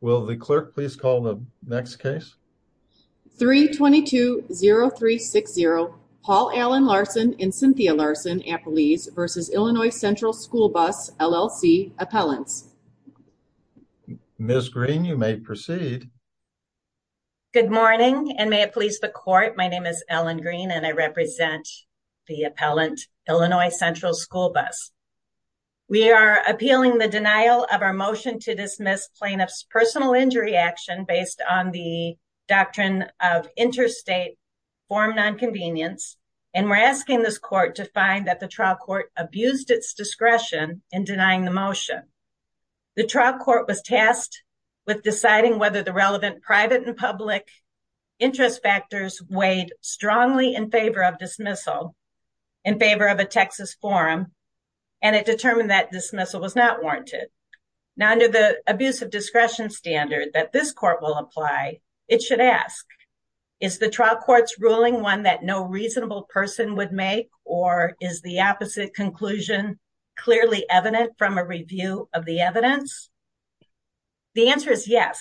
Will the clerk please call the next case? 3-22-0360 Paul Allen Larson and Cynthia Larson, Appellees v. Illinois Central School Bus, LLC, Appellants. Ms. Green, you may proceed. Good morning and may it please the court, my name is Ellen Green and I represent the appellant, Illinois Central School Bus. We are appealing the denial of our motion to dismiss plaintiff's personal injury action based on the doctrine of interstate form non-convenience and we're asking this court to find that the trial court abused its discretion in denying the motion. The trial court was tasked with deciding whether the relevant private and public interest factors weighed strongly in favor of dismissal, in favor of a Texas forum, and it determined that dismissal was not warranted. Now under the abuse of discretion standard that this court will apply, it should ask, is the trial court's ruling one that no reasonable person would make or is the opposite conclusion clearly evident from a review of the evidence? The answer is yes.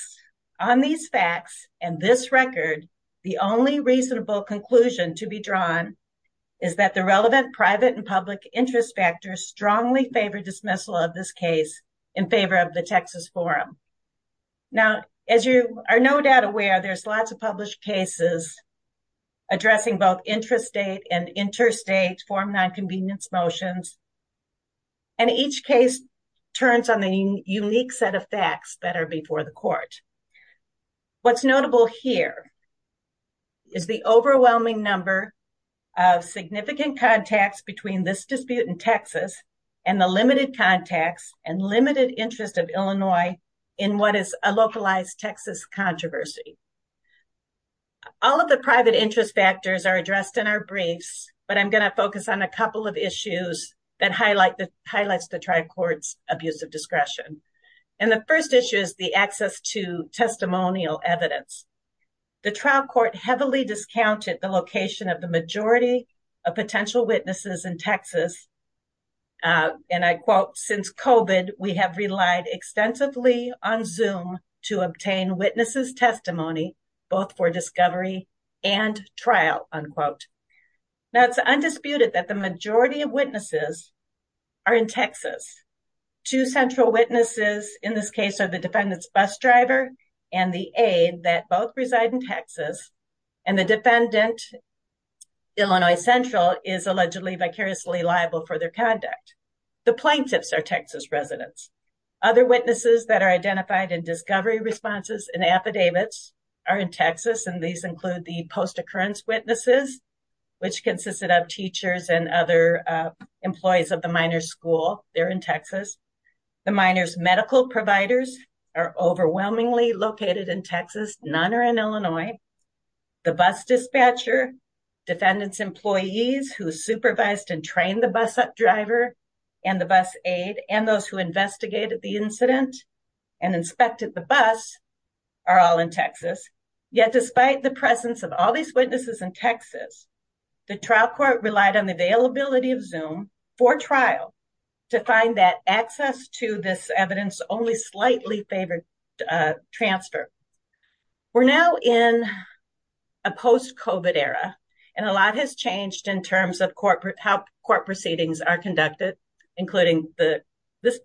On these facts and this record, the only reasonable conclusion to be drawn is that the relevant private and public interest factors strongly favor dismissal of this case in favor of the Texas forum. Now as you are no doubt aware, there's lots of published cases addressing both intrastate and interstate form non-convenience motions and each case turns on the unique set of facts that are before the court. What's notable here is the overwhelming number of significant contacts between this dispute in Texas and the limited contacts and limited interest of Illinois in what is a localized Texas controversy. All of the private interest factors are addressed in our briefs, but I'm going to focus on a couple of issues that highlight the highlights the trial court's abuse of discretion. And the first issue is the access to testimonial evidence. The trial court heavily discounted the location of the majority of potential witnesses in Texas. And I quote, since COVID, we have relied extensively on Zoom to obtain witnesses testimony, both for discovery and trial, unquote. Now it's undisputed that the majority of witnesses are in Texas. Two central witnesses in this case are the defendant's bus driver and the aide that both reside in Texas. And the defendant, Illinois Central, is allegedly vicariously liable for their conduct. The plaintiffs are Texas residents. Other witnesses that are identified in discovery responses and affidavits are in Texas and these include the post-occurrence witnesses, which consisted of teachers and other employees of the minor school. They're in Texas. The minor's medical providers are overwhelmingly located in Texas. None are in Illinois. The bus dispatcher, defendant's employees who supervised and trained the bus driver and the bus aide and those who investigated the incident and inspected the bus are all in Texas. Yet despite the presence of all these witnesses in Texas, the trial court relied on the availability of Zoom for trial to find that access to this evidence only slightly favored transfer. We're now in a post-COVID era and a lot has changed in terms of how court proceedings are conducted, including this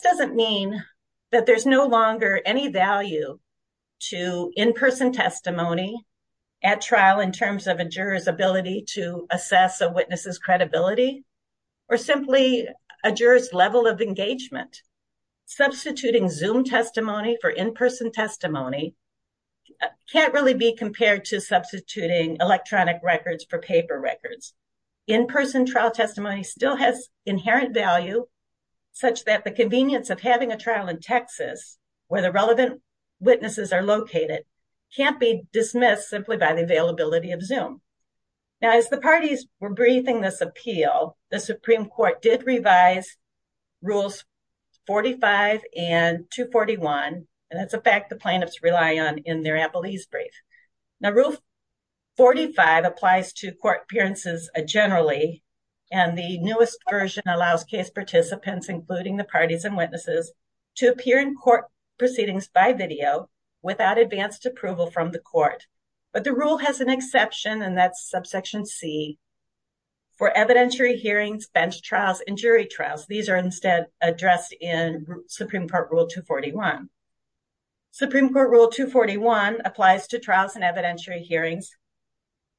doesn't mean that there's no longer any value to in-person testimony at trial in terms of a juror's ability to assess a witness's credibility or simply a juror's level of engagement. Substituting Zoom testimony for in-person testimony can't really be compared to substituting electronic records for paper records. In-person trial testimony still has inherent value such that the convenience of having a trial in Texas where the relevant witnesses are located can't be dismissed simply by the availability of Zoom. Now as the parties were briefing this appeal, the Supreme Court did revise Rules 45 and 241 and that's a fact the plaintiffs rely on in their appellees brief. Now Rule 45 applies to court appearances generally and the newest version allows case participants including the parties and witnesses to appear in court proceedings by video without advanced approval from the court. But the rule has an exception and that's subsection C for evidentiary hearings, bench trials, and jury trials. These are instead addressed in Supreme Court Rule 241. Supreme Court Rule 241 applies to trials and evidentiary hearings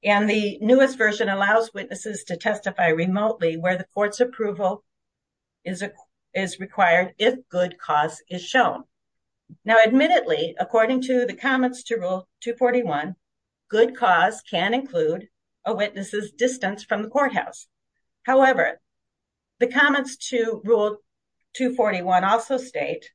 and the newest version allows witnesses to testify remotely where the court's approval is required if good cause is shown. Now admittedly, according to the comments to Rule 241, good cause can include a witness's distance from the courthouse. However, the comments to Rule 241 also state,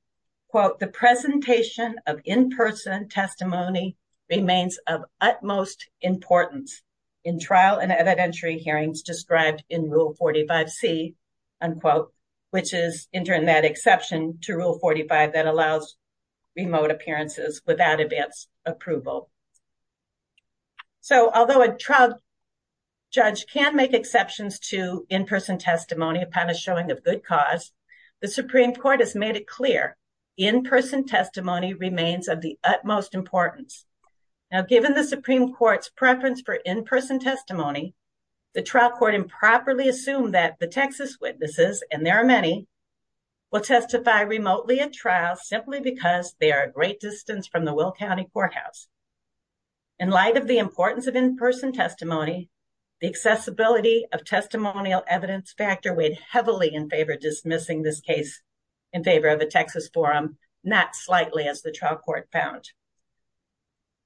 quote, the presentation of in-person testimony remains of utmost importance in trial and evidentiary hearings described in Rule 45C, unquote, which is entering that exception to Rule 45 that allows remote appearances without advanced approval. So although a trial judge can make exceptions to in-person testimony upon a showing of good cause, the Supreme Court has made it clear in-person testimony remains of the utmost importance. Now given the Supreme Court's preference for in-person testimony, the trial court improperly assumed that the Texas witnesses, and there are many, will testify remotely at trials simply because they are a great distance from the Will County Courthouse. In light of the importance of in-person testimony, the accessibility of testimonial evidence factor weighed heavily in favor of dismissing this case in favor of a Texas forum, not slightly as the trial court found.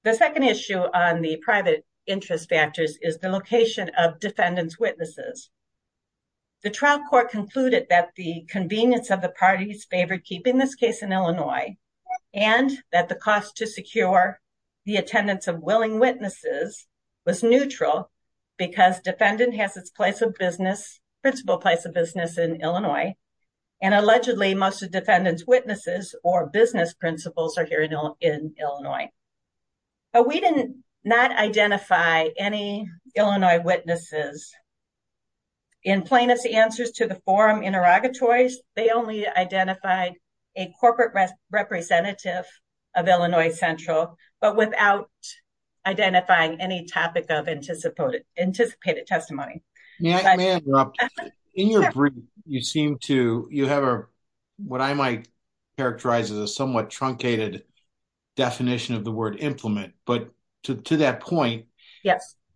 The second issue on the private interest factors is the location of defendant's witnesses. The trial court concluded that the convenience of the parties favored keeping this case in Illinois and that the cost to secure the attendance of willing witnesses was neutral because defendant has its place of business, principal place of business in Illinois, and allegedly most of defendant's witnesses or business principals are here in Illinois. But we did not identify any Illinois witnesses in plainest answers to the forum interrogatories. They only identified a corporate representative of Illinois Central, but without identifying any topic of anticipated testimony. May I interrupt? In your brief, you have what I might characterize as a somewhat truncated definition of the word implement, but to that point,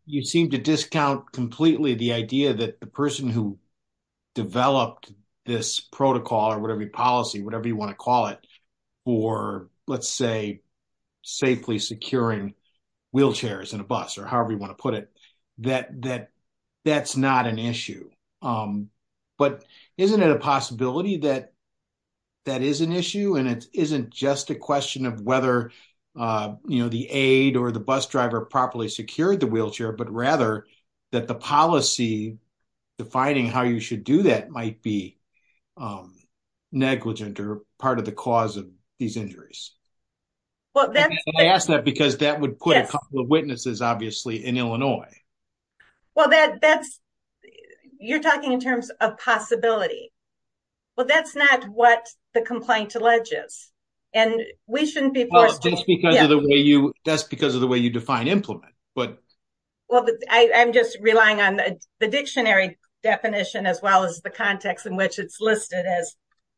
you seem to discount completely the idea that the person who developed this protocol or whatever policy, whatever you want to call it, for let's say safely securing wheelchairs and a bus or however you put it, that that's not an issue. But isn't it a possibility that that is an issue and it isn't just a question of whether the aid or the bus driver properly secured the wheelchair, but rather that the policy defining how you should do that might be negligent or part of the cause of these injuries? I ask that because that would put a couple of witnesses obviously in Illinois. Well, you're talking in terms of possibility. Well, that's not what the complaint alleges, and we shouldn't be forced to... Well, that's because of the way you define implement, but... Well, I'm just relying on the dictionary definition as well as the context in which it's listed as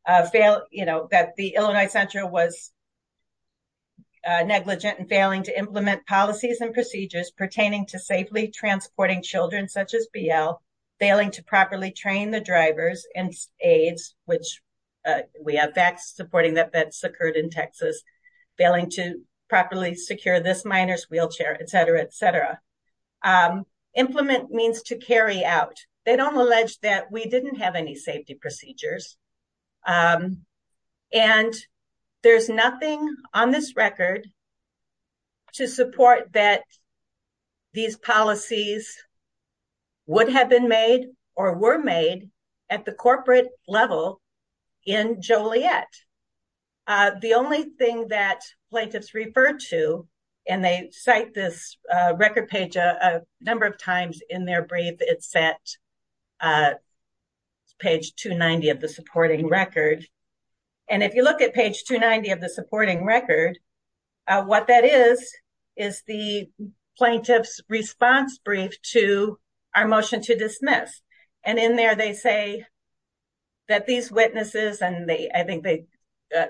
that the Illinois Center was negligent in failing to implement policies and procedures pertaining to safely transporting children such as BL, failing to properly train the drivers and aides, which we have facts supporting that that's occurred in Texas, failing to properly secure this minor's wheelchair, et cetera, et cetera. Implement means to carry out. They don't allege that we didn't have any safety procedures, and there's nothing on this record to support that these policies would have been made or were made at the corporate level in Joliet. The only thing that number of times in their brief, it's set page 290 of the supporting record. And if you look at page 290 of the supporting record, what that is, is the plaintiff's response brief to our motion to dismiss. And in there, they say that these witnesses, and I think they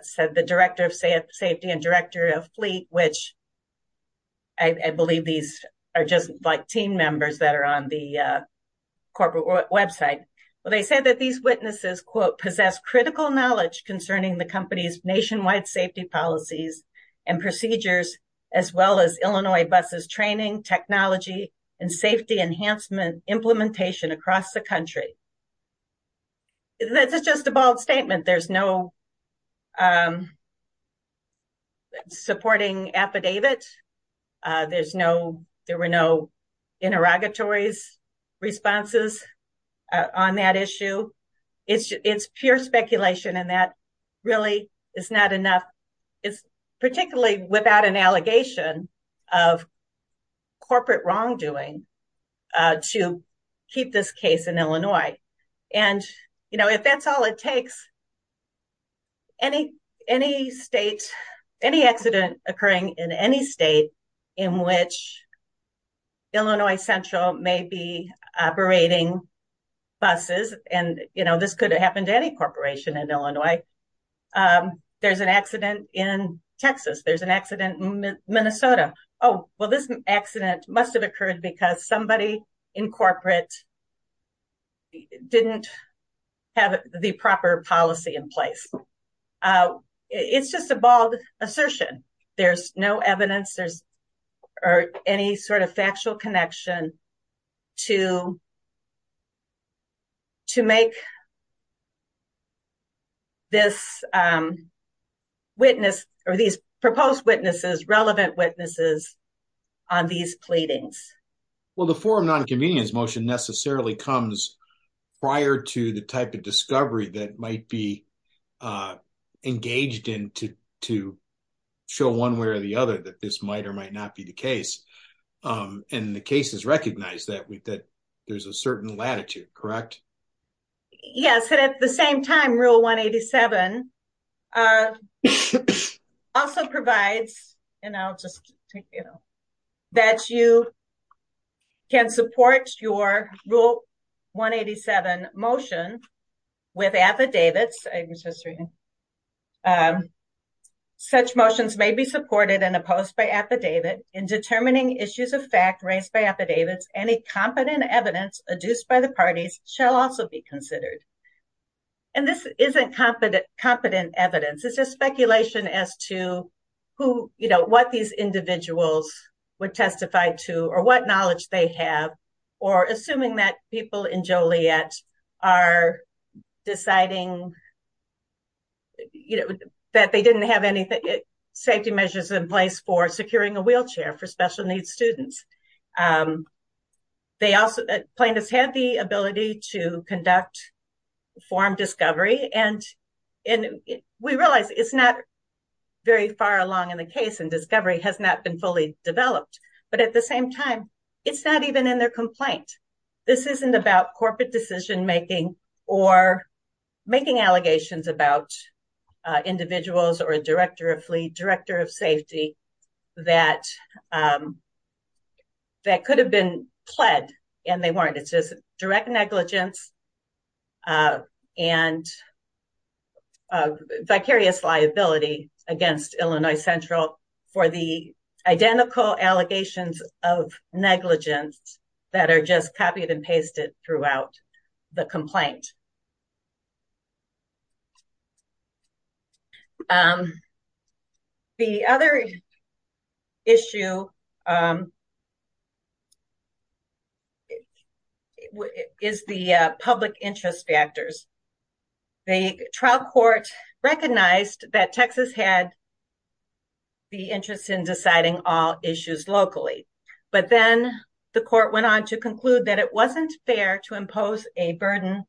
said the director of safety and director of fleet, which I believe these are just team members that are on the corporate website. Well, they said that these witnesses, quote, possess critical knowledge concerning the company's nationwide safety policies and procedures, as well as Illinois buses training, technology, and safety enhancement implementation across the country. And that's just a bold statement. There's no supporting affidavit. There were no interrogatories responses on that issue. It's pure speculation, and that really is not enough. It's particularly without an allegation of corporate wrongdoing to keep this case in Illinois. And if that's all it takes, any accident occurring in any state in which Illinois Central may be operating buses, and this could have happened to any corporation in Illinois. There's an accident in Texas. There's an accident in Minnesota. Oh, well, this accident must have occurred because somebody in corporate didn't have the proper policy in place. It's just a bold assertion. There's no evidence or any sort of factual connection to make this witness, or these proposed witnesses, relevant witnesses on these pleadings. Well, the forum non-convenience motion necessarily comes prior to the type of discovery that might be engaged in to show one way or the other that this might or might not be the case. And the case is recognized that there's a certain latitude, correct? Yes, and at the same time, Rule 187 also provides, and I'll just take you know, that you can support your Rule 187 motion with affidavits. I was just reading. Such motions may be supported and opposed by affidavit in determining issues of fact raised by affidavits. Any competent evidence adduced by the parties shall also be considered. And this isn't competent evidence. It's just speculation as to who, you know, what these individuals would testify to or what knowledge they have, or assuming that people in Joliet are deciding, you know, that they didn't have any safety measures in place for securing a wheelchair for special needs students. Plaintiffs have the ability to conduct forum discovery, and we realize it's not very far along in the case, and discovery has not been fully developed. But at the same time, it's not even in their complaint. This isn't about corporate decision making or making allegations about individuals or a director of fleet, director of safety, that could have been pled, and they weren't. It's just direct negligence and vicarious liability against Illinois Central for the identical allegations of negligence that are just copied and pasted throughout the complaint. The other issue is the public interest factors. The trial court recognized that Texas had the interest in deciding all issues locally, but then the court went on to conclude that it wasn't fair to impose a burden,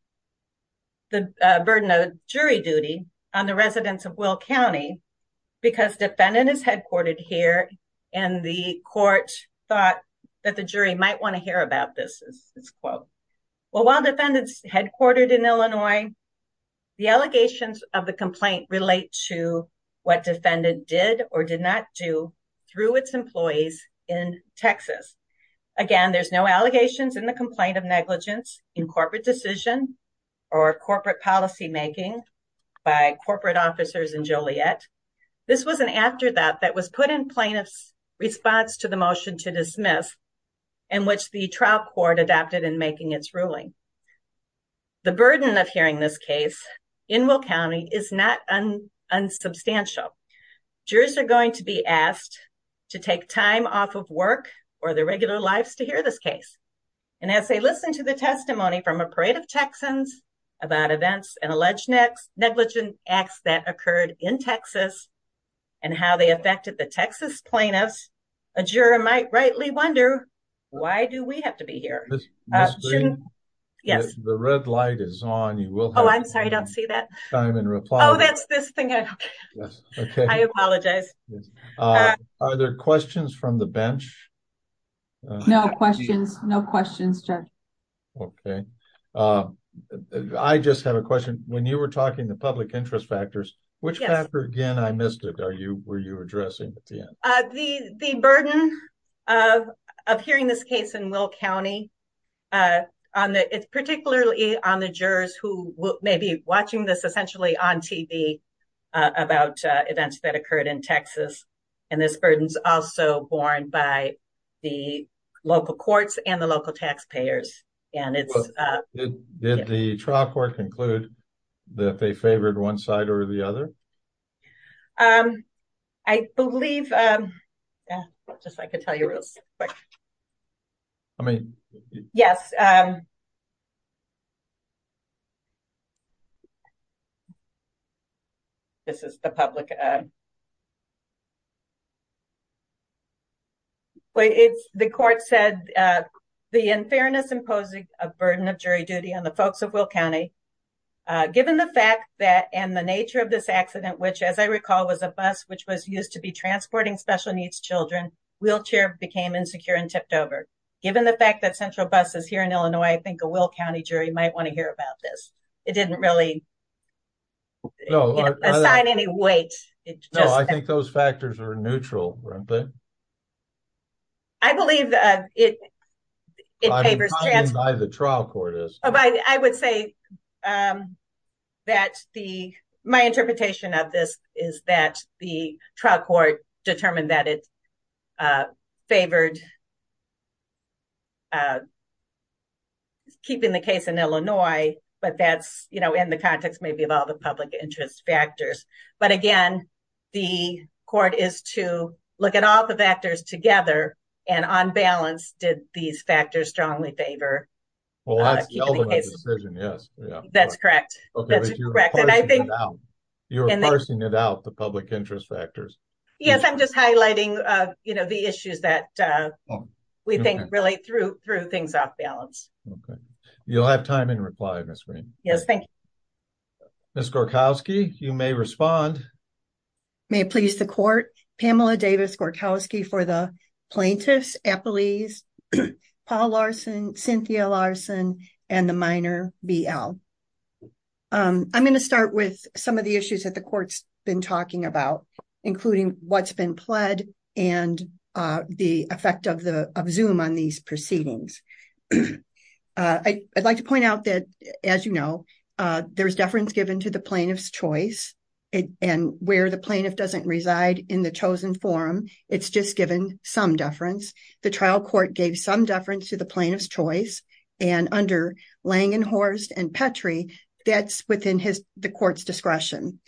the burden of jury duty on the residents of Will County, because defendant is headquartered here, and the court thought that the jury might want to hear about this, is this quote. Well, while defendants headquartered in Illinois, the allegations of the complaint relate to what defendant did or did not do through its employees in Texas. Again, there's no allegations in the complaint of negligence in corporate decision or corporate policy making by corporate officers in Joliet. This was an afterthought that was put in plaintiff's response to the motion to dismiss, and which the trial court adopted in making its ruling. The burden of hearing this case in Will County is not unsubstantial. Jurors are going to be asked to take time off of work or their regular lives to hear this case. And as they listen to the testimony from a parade of Texans about events and alleged negligent acts that occurred in Texas and how they affected the Texas plaintiffs, a juror might rightly wonder, why do we have to be here? Yes, the red light is on. You will. Oh, I'm sorry. I don't see that. I'm in reply. Oh, that's this thing. Okay. I apologize. Are there questions from the bench? No questions. No questions, Judge. Okay. I just have a question. When you were talking to public interest factors, which factor, again, I missed it, were you addressing at the end? The burden of hearing this case in Will County, particularly on the jurors who may be watching this essentially on TV about events that occurred in Texas, and this burden is also borne by the local courts and the local taxpayers. Did the trial court conclude that they favored one or the other? I believe, just so I could tell you real quick. Yes. This is the public. The court said the unfairness imposing a burden of jury duty on the folks of Will County, given the fact that, and the nature of this accident, which, as I recall, was a bus which was used to be transporting special needs children, wheelchair became insecure and tipped over. Given the fact that central bus is here in Illinois, I think a Will County jury might want to hear about this. It didn't really assign any weight. No, I think those factors are neutral. Right? I believe that it paves the way for the trial court. I would say that my interpretation of this is that the trial court determined that it favored keeping the case in Illinois, but that's in the context maybe of all the public interest factors. Again, the court is to look at all the factors together, and on balance, did these factors strongly favor? That's correct. You're parsing it out, the public interest factors. Yes, I'm just highlighting the issues that we think relate through things off balance. You'll have time in reply, Ms. Green. Yes, thank you. Ms. Gorkowski, you may respond. May it please the court, Pamela Davis Gorkowski for the plaintiffs, Appleese, Paul Larson, Cynthia Larson, and the minor, BL. I'm going to start with some of the issues that the court's been talking about, including what's been pled and the effect of Zoom on these proceedings. I'd like to point out that, as you know, there's deference given to the plaintiff's choice, and where the plaintiff doesn't reside in the chosen forum, it's just given some deference. The trial court gave some deference to the plaintiff's choice, and under Lang and Horst and Petrie, that's within the court's discretion.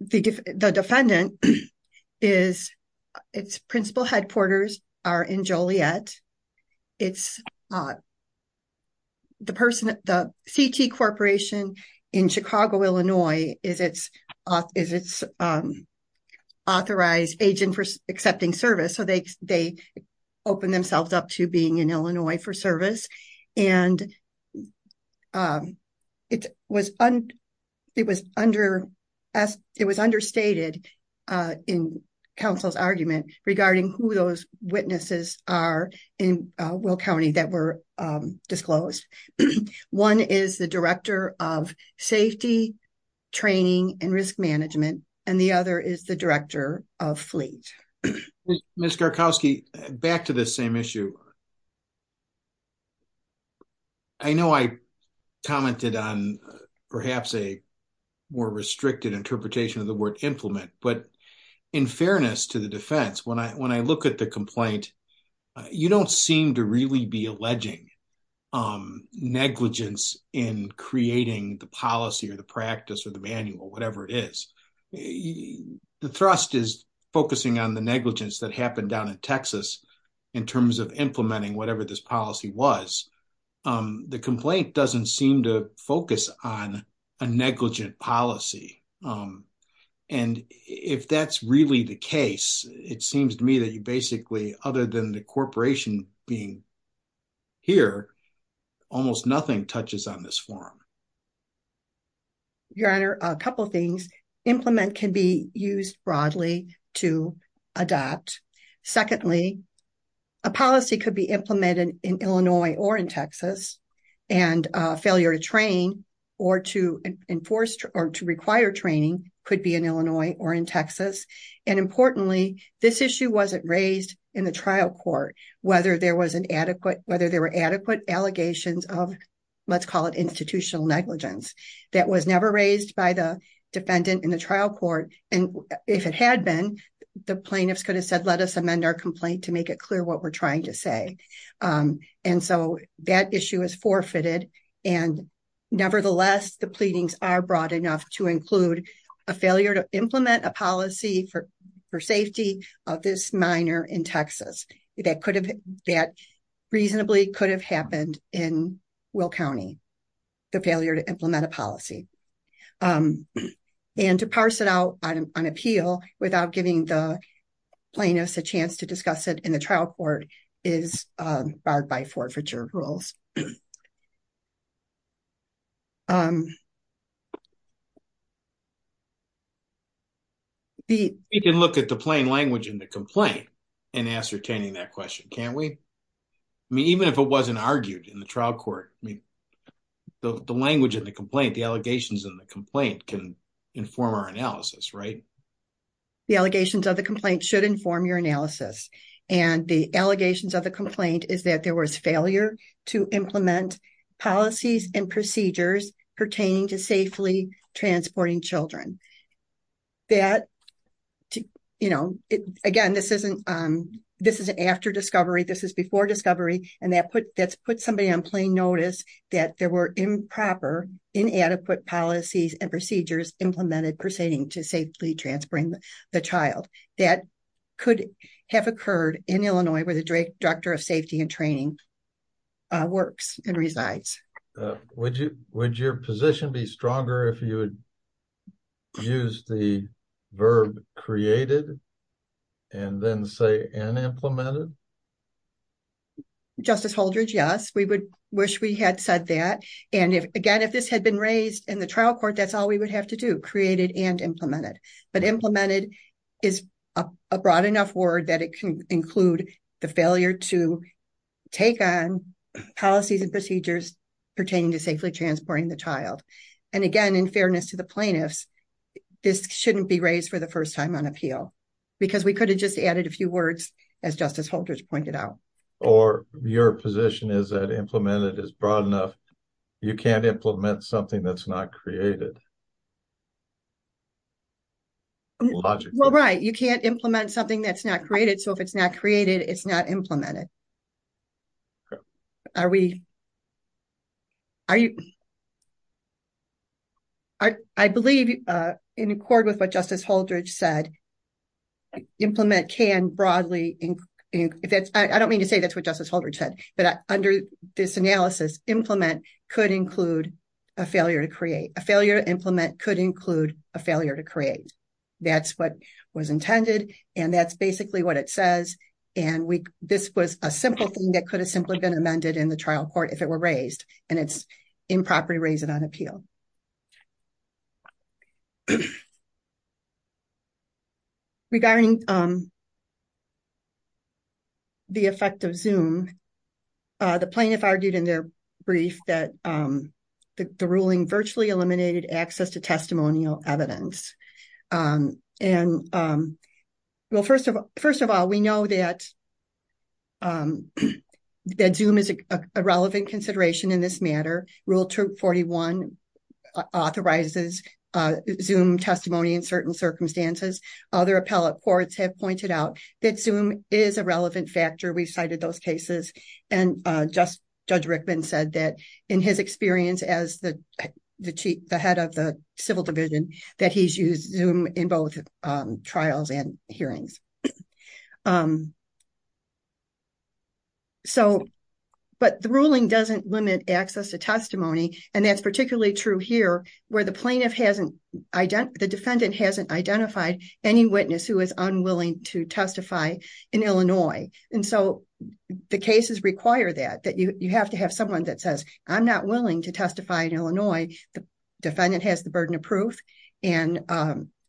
The defendant, its principal headquarters are in Illinois. The CT Corporation in Chicago, Illinois, is its authorized agent for accepting service, so they opened themselves up to being in Illinois for service, and it was understated in counsel's argument regarding who those witnesses are in Will County that were disclosed. One is the director of safety, training, and risk management, and the other is the director of fleet. Ms. Gorkowski, back to the same issue. I know I commented on perhaps a more restricted interpretation of the word implement, but in fairness to the defense, when I look at the complaint, you don't seem to really be alleging negligence in creating the policy or the practice or the manual, whatever it is. The thrust is focusing on the negligence that happened down in Texas in terms of implementing whatever this policy was. The complaint doesn't seem to focus on a negligent policy, and if that's really the case, it seems to me that you basically, other than the corporation being here, almost nothing touches on this forum. Your Honor, a couple things. Implement can be used broadly to adopt. Secondly, a policy could be implemented in Illinois or in Texas, and failure to train or to require training could be in Illinois or in Texas. Importantly, this issue wasn't raised in the trial court, whether there were adequate allegations of, let's call it institutional negligence. That was never raised by the defendant in the trial court, and if it had been, the plaintiffs could have said, let us amend our complaint to make it forfeited, and nevertheless, the pleadings are broad enough to include a failure to implement a policy for safety of this minor in Texas. That reasonably could have happened in Will County, the failure to implement a policy, and to parse it out on appeal without giving the plaintiffs a chance to discuss it in the trial court is barred by forfeiture rules. We can look at the plain language in the complaint in ascertaining that question, can't we? I mean, even if it wasn't argued in the trial court, I mean, the language in the complaint, the allegations in the complaint can inform our analysis, right? The allegations of the complaint should inform your analysis, and the allegations of the complaint is that there was failure to implement policies and procedures pertaining to safely transporting children. Again, this is after discovery, this is before discovery, and that's put somebody on plain notice that there were improper, inadequate policies and procedures implemented pertaining to safely transporting the child. That could have occurred in Illinois where the director of safety and training works and resides. Would your position be stronger if you would use the verb created and then say unimplemented? Justice Holdridge, yes, we would wish we had said that, and again, if this had been raised in the trial court, that's all we would have to do, create it and implement it. But implemented is a broad enough word that it can include the failure to take on policies and procedures pertaining to safely transporting the child. And again, in fairness to the plaintiffs, this shouldn't be raised for the first time on appeal because we could have just added a few words, as Justice Holdridge pointed out. Or your position is that implemented is broad enough, you can't implement something that's not created. Well, right, you can't implement something that's not created, so if it's not created, it's not implemented. I believe in accord with what Justice Holdridge said, implement can broadly, I don't mean to say that's what Justice Holdridge said, but under this analysis, implement could include a failure to create, a failure to implement could include a failure to create. That's what was intended, and that's basically what it says. And this was a simple thing that could have simply been amended in the trial court if it were raised, and it's improper to raise it on appeal. Regarding the effect of Zoom, the plaintiff argued in their brief that the ruling virtually eliminated access to testimonial evidence. Well, first of all, we know that Zoom is a relevant consideration in this matter. Rule 241 authorizes Zoom testimony in certain circumstances. Other appellate courts have pointed out that Zoom is a relevant factor. We've cited those cases, and Judge Rickman said that in his experience as the head of the civil division, that he's used Zoom in both trials and hearings. But the ruling doesn't limit access to testimony, and that's particularly true here, where the defendant hasn't identified any witness who is unwilling to testify in Illinois. And so the cases require that, that you have to have someone that says, I'm not willing to testify in Illinois. The defendant has the burden of proof, and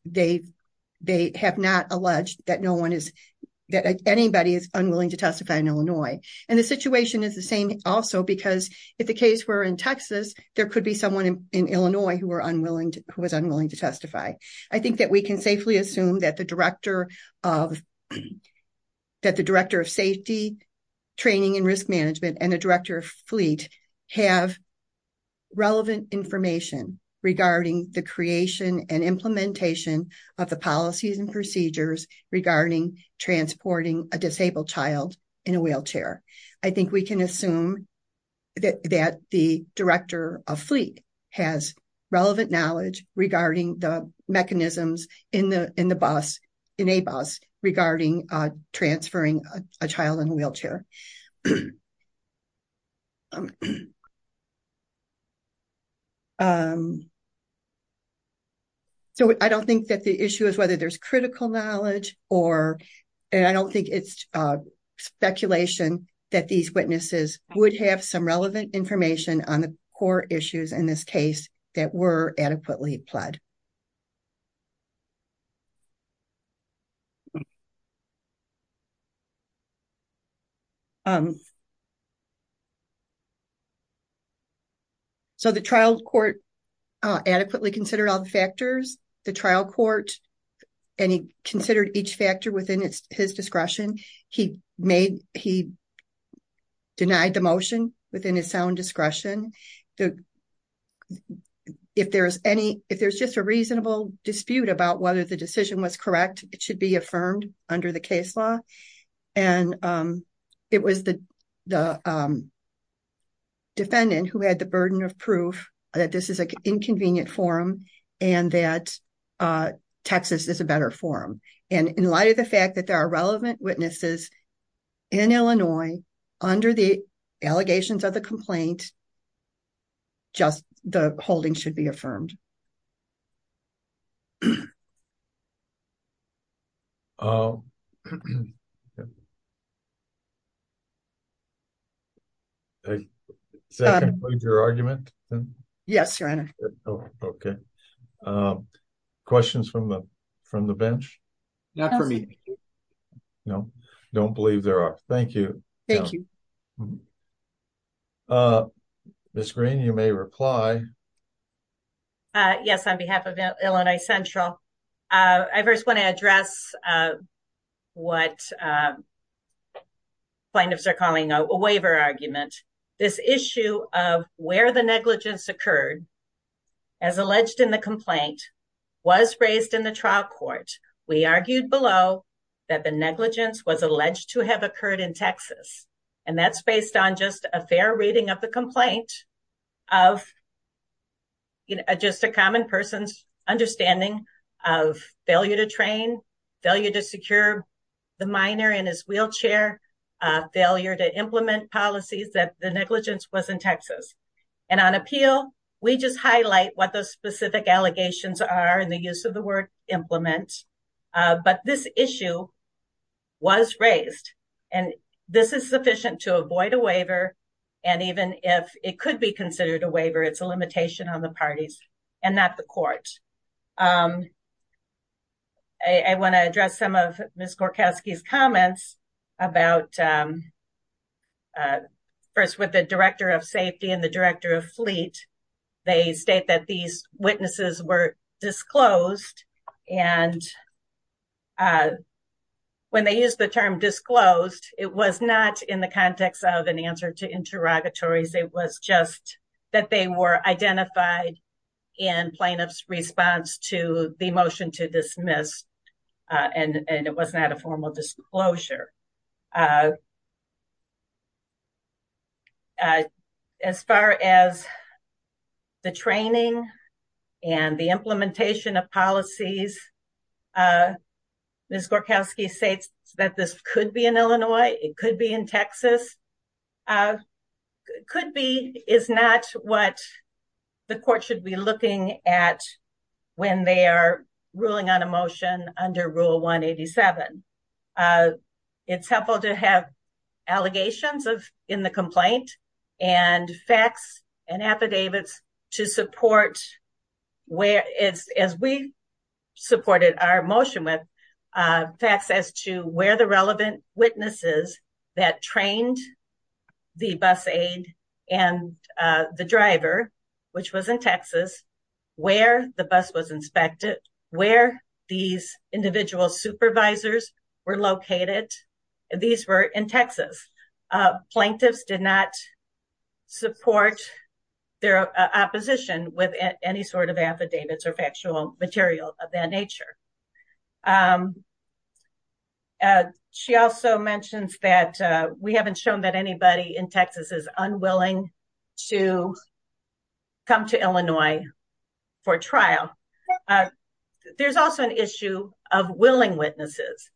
they have not alleged that anybody is unwilling to testify in Illinois. And the situation is the who was unwilling to testify. I think that we can safely assume that the Director of Safety, Training and Risk Management, and the Director of Fleet have relevant information regarding the creation and implementation of the policies and procedures regarding transporting a disabled child in a wheelchair. I think we can assume that the Director of Fleet has relevant knowledge regarding the mechanisms in the bus, in a bus, regarding transferring a child in a wheelchair. So I don't think that the issue is whether there's critical knowledge or, and I don't think it's speculation that these witnesses would have some relevant information on the core issues in this case that were adequately applied. So the trial court adequately considered all the factors, the trial court, and he considered each factor within his discretion. He made, he denied the motion within his sound discretion. If there's any, if there's just a reasonable dispute about whether the decision was correct, it should be affirmed under the case law. And it was the defendant who had the burden of proof that this is an inconvenient forum and that Texas is a better forum. And in light of the fact that there are relevant witnesses in Illinois under the allegations of the complaint, just the holding should be affirmed. Does that conclude your argument? Yes, Your Honor. Okay. Questions from the, from the bench? Not for me. No, don't believe there are. Thank you. Thank you. Ms. Green, you may reply. Yes. On behalf of Illinois Central, I first want to address what plaintiffs are calling a waiver argument. This issue of where the negligence occurred as alleged in the complaint was raised in the trial based on just a fair reading of the complaint of just a common person's understanding of failure to train, failure to secure the minor in his wheelchair, failure to implement policies that the negligence was in Texas. And on appeal, we just highlight what those specific allegations are in the use of the word implement. But this issue was raised and this is sufficient to avoid a waiver. And even if it could be considered a waiver, it's a limitation on the parties and not the court. I want to address some of Ms. Gorkowski's comments about first with the director of safety and the director of fleet. They state that these witnesses were disclosed and when they use the term disclosed, it was not in the context of an answer to interrogatories. It was just that they were identified in plaintiff's response to the motion to dismiss. And it was not a formal disclosure. Uh, uh, as far as the training and the implementation of policies, uh, Ms. Gorkowski states that this could be an Illinois, it could be in Texas, uh, could be is not what the court should be looking at when they are ruling on a motion under rule 187. Uh, it's helpful to have allegations of in the complaint and facts and affidavits to support where it's, as we supported our motion with, uh, facts as to where the relevant witnesses that trained the bus aid and, uh, the driver, which was in Texas, where the bus was inspected, where these individual supervisors were located. These were in Texas. Uh, plaintiffs did not support their opposition with any sort of affidavits or factual material of that nature. Um, uh, she also mentioned that, uh, we haven't for trial. Uh, there's also an issue of willing witnesses.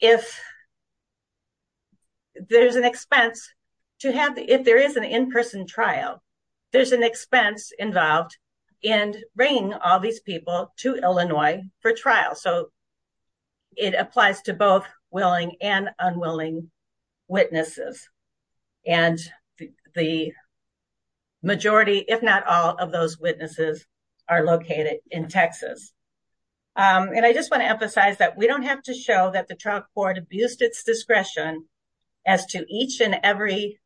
If there's an expense to have, if there is an in-person trial, there's an expense involved in bringing all these people to Illinois for trial. So it applies to both willing and unwilling witnesses. And the majority, if not all of those witnesses are located in Texas. Um, and I just want to emphasize that we don't have to show that the trial court abused its discretion as to each and every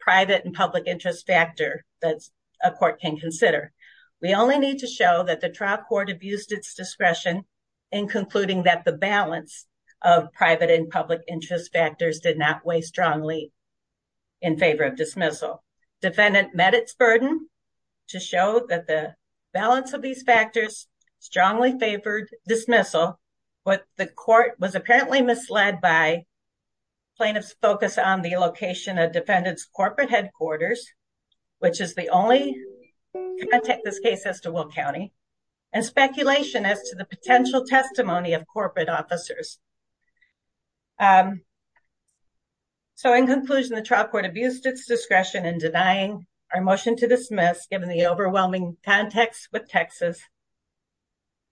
private and public interest factor that a court can consider. We only need to show that the trial court abused its discretion in concluding that the balance of private and public interest factors did not weigh strongly in favor of dismissal. Defendant met its burden to show that the balance of these factors strongly favored dismissal, but the court was apparently misled by plaintiff's focus on the location of defendant's corporate headquarters, which is the only contact this case has to Will County and speculation as to the potential testimony of corporate officers. Um, so in conclusion, the trial court abused its discretion in denying our motion to dismiss given the overwhelming context with Texas.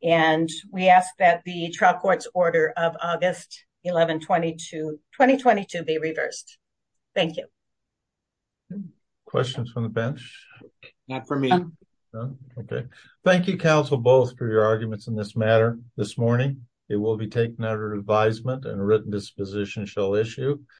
And we ask that the trial court's order of August 11, 2022, 2022 be reversed. Thank you. Questions from the bench. Not for me. Okay. Thank you. Council both for your arguments in this matter this morning. It will be taken out of advisement and written disposition shall issue.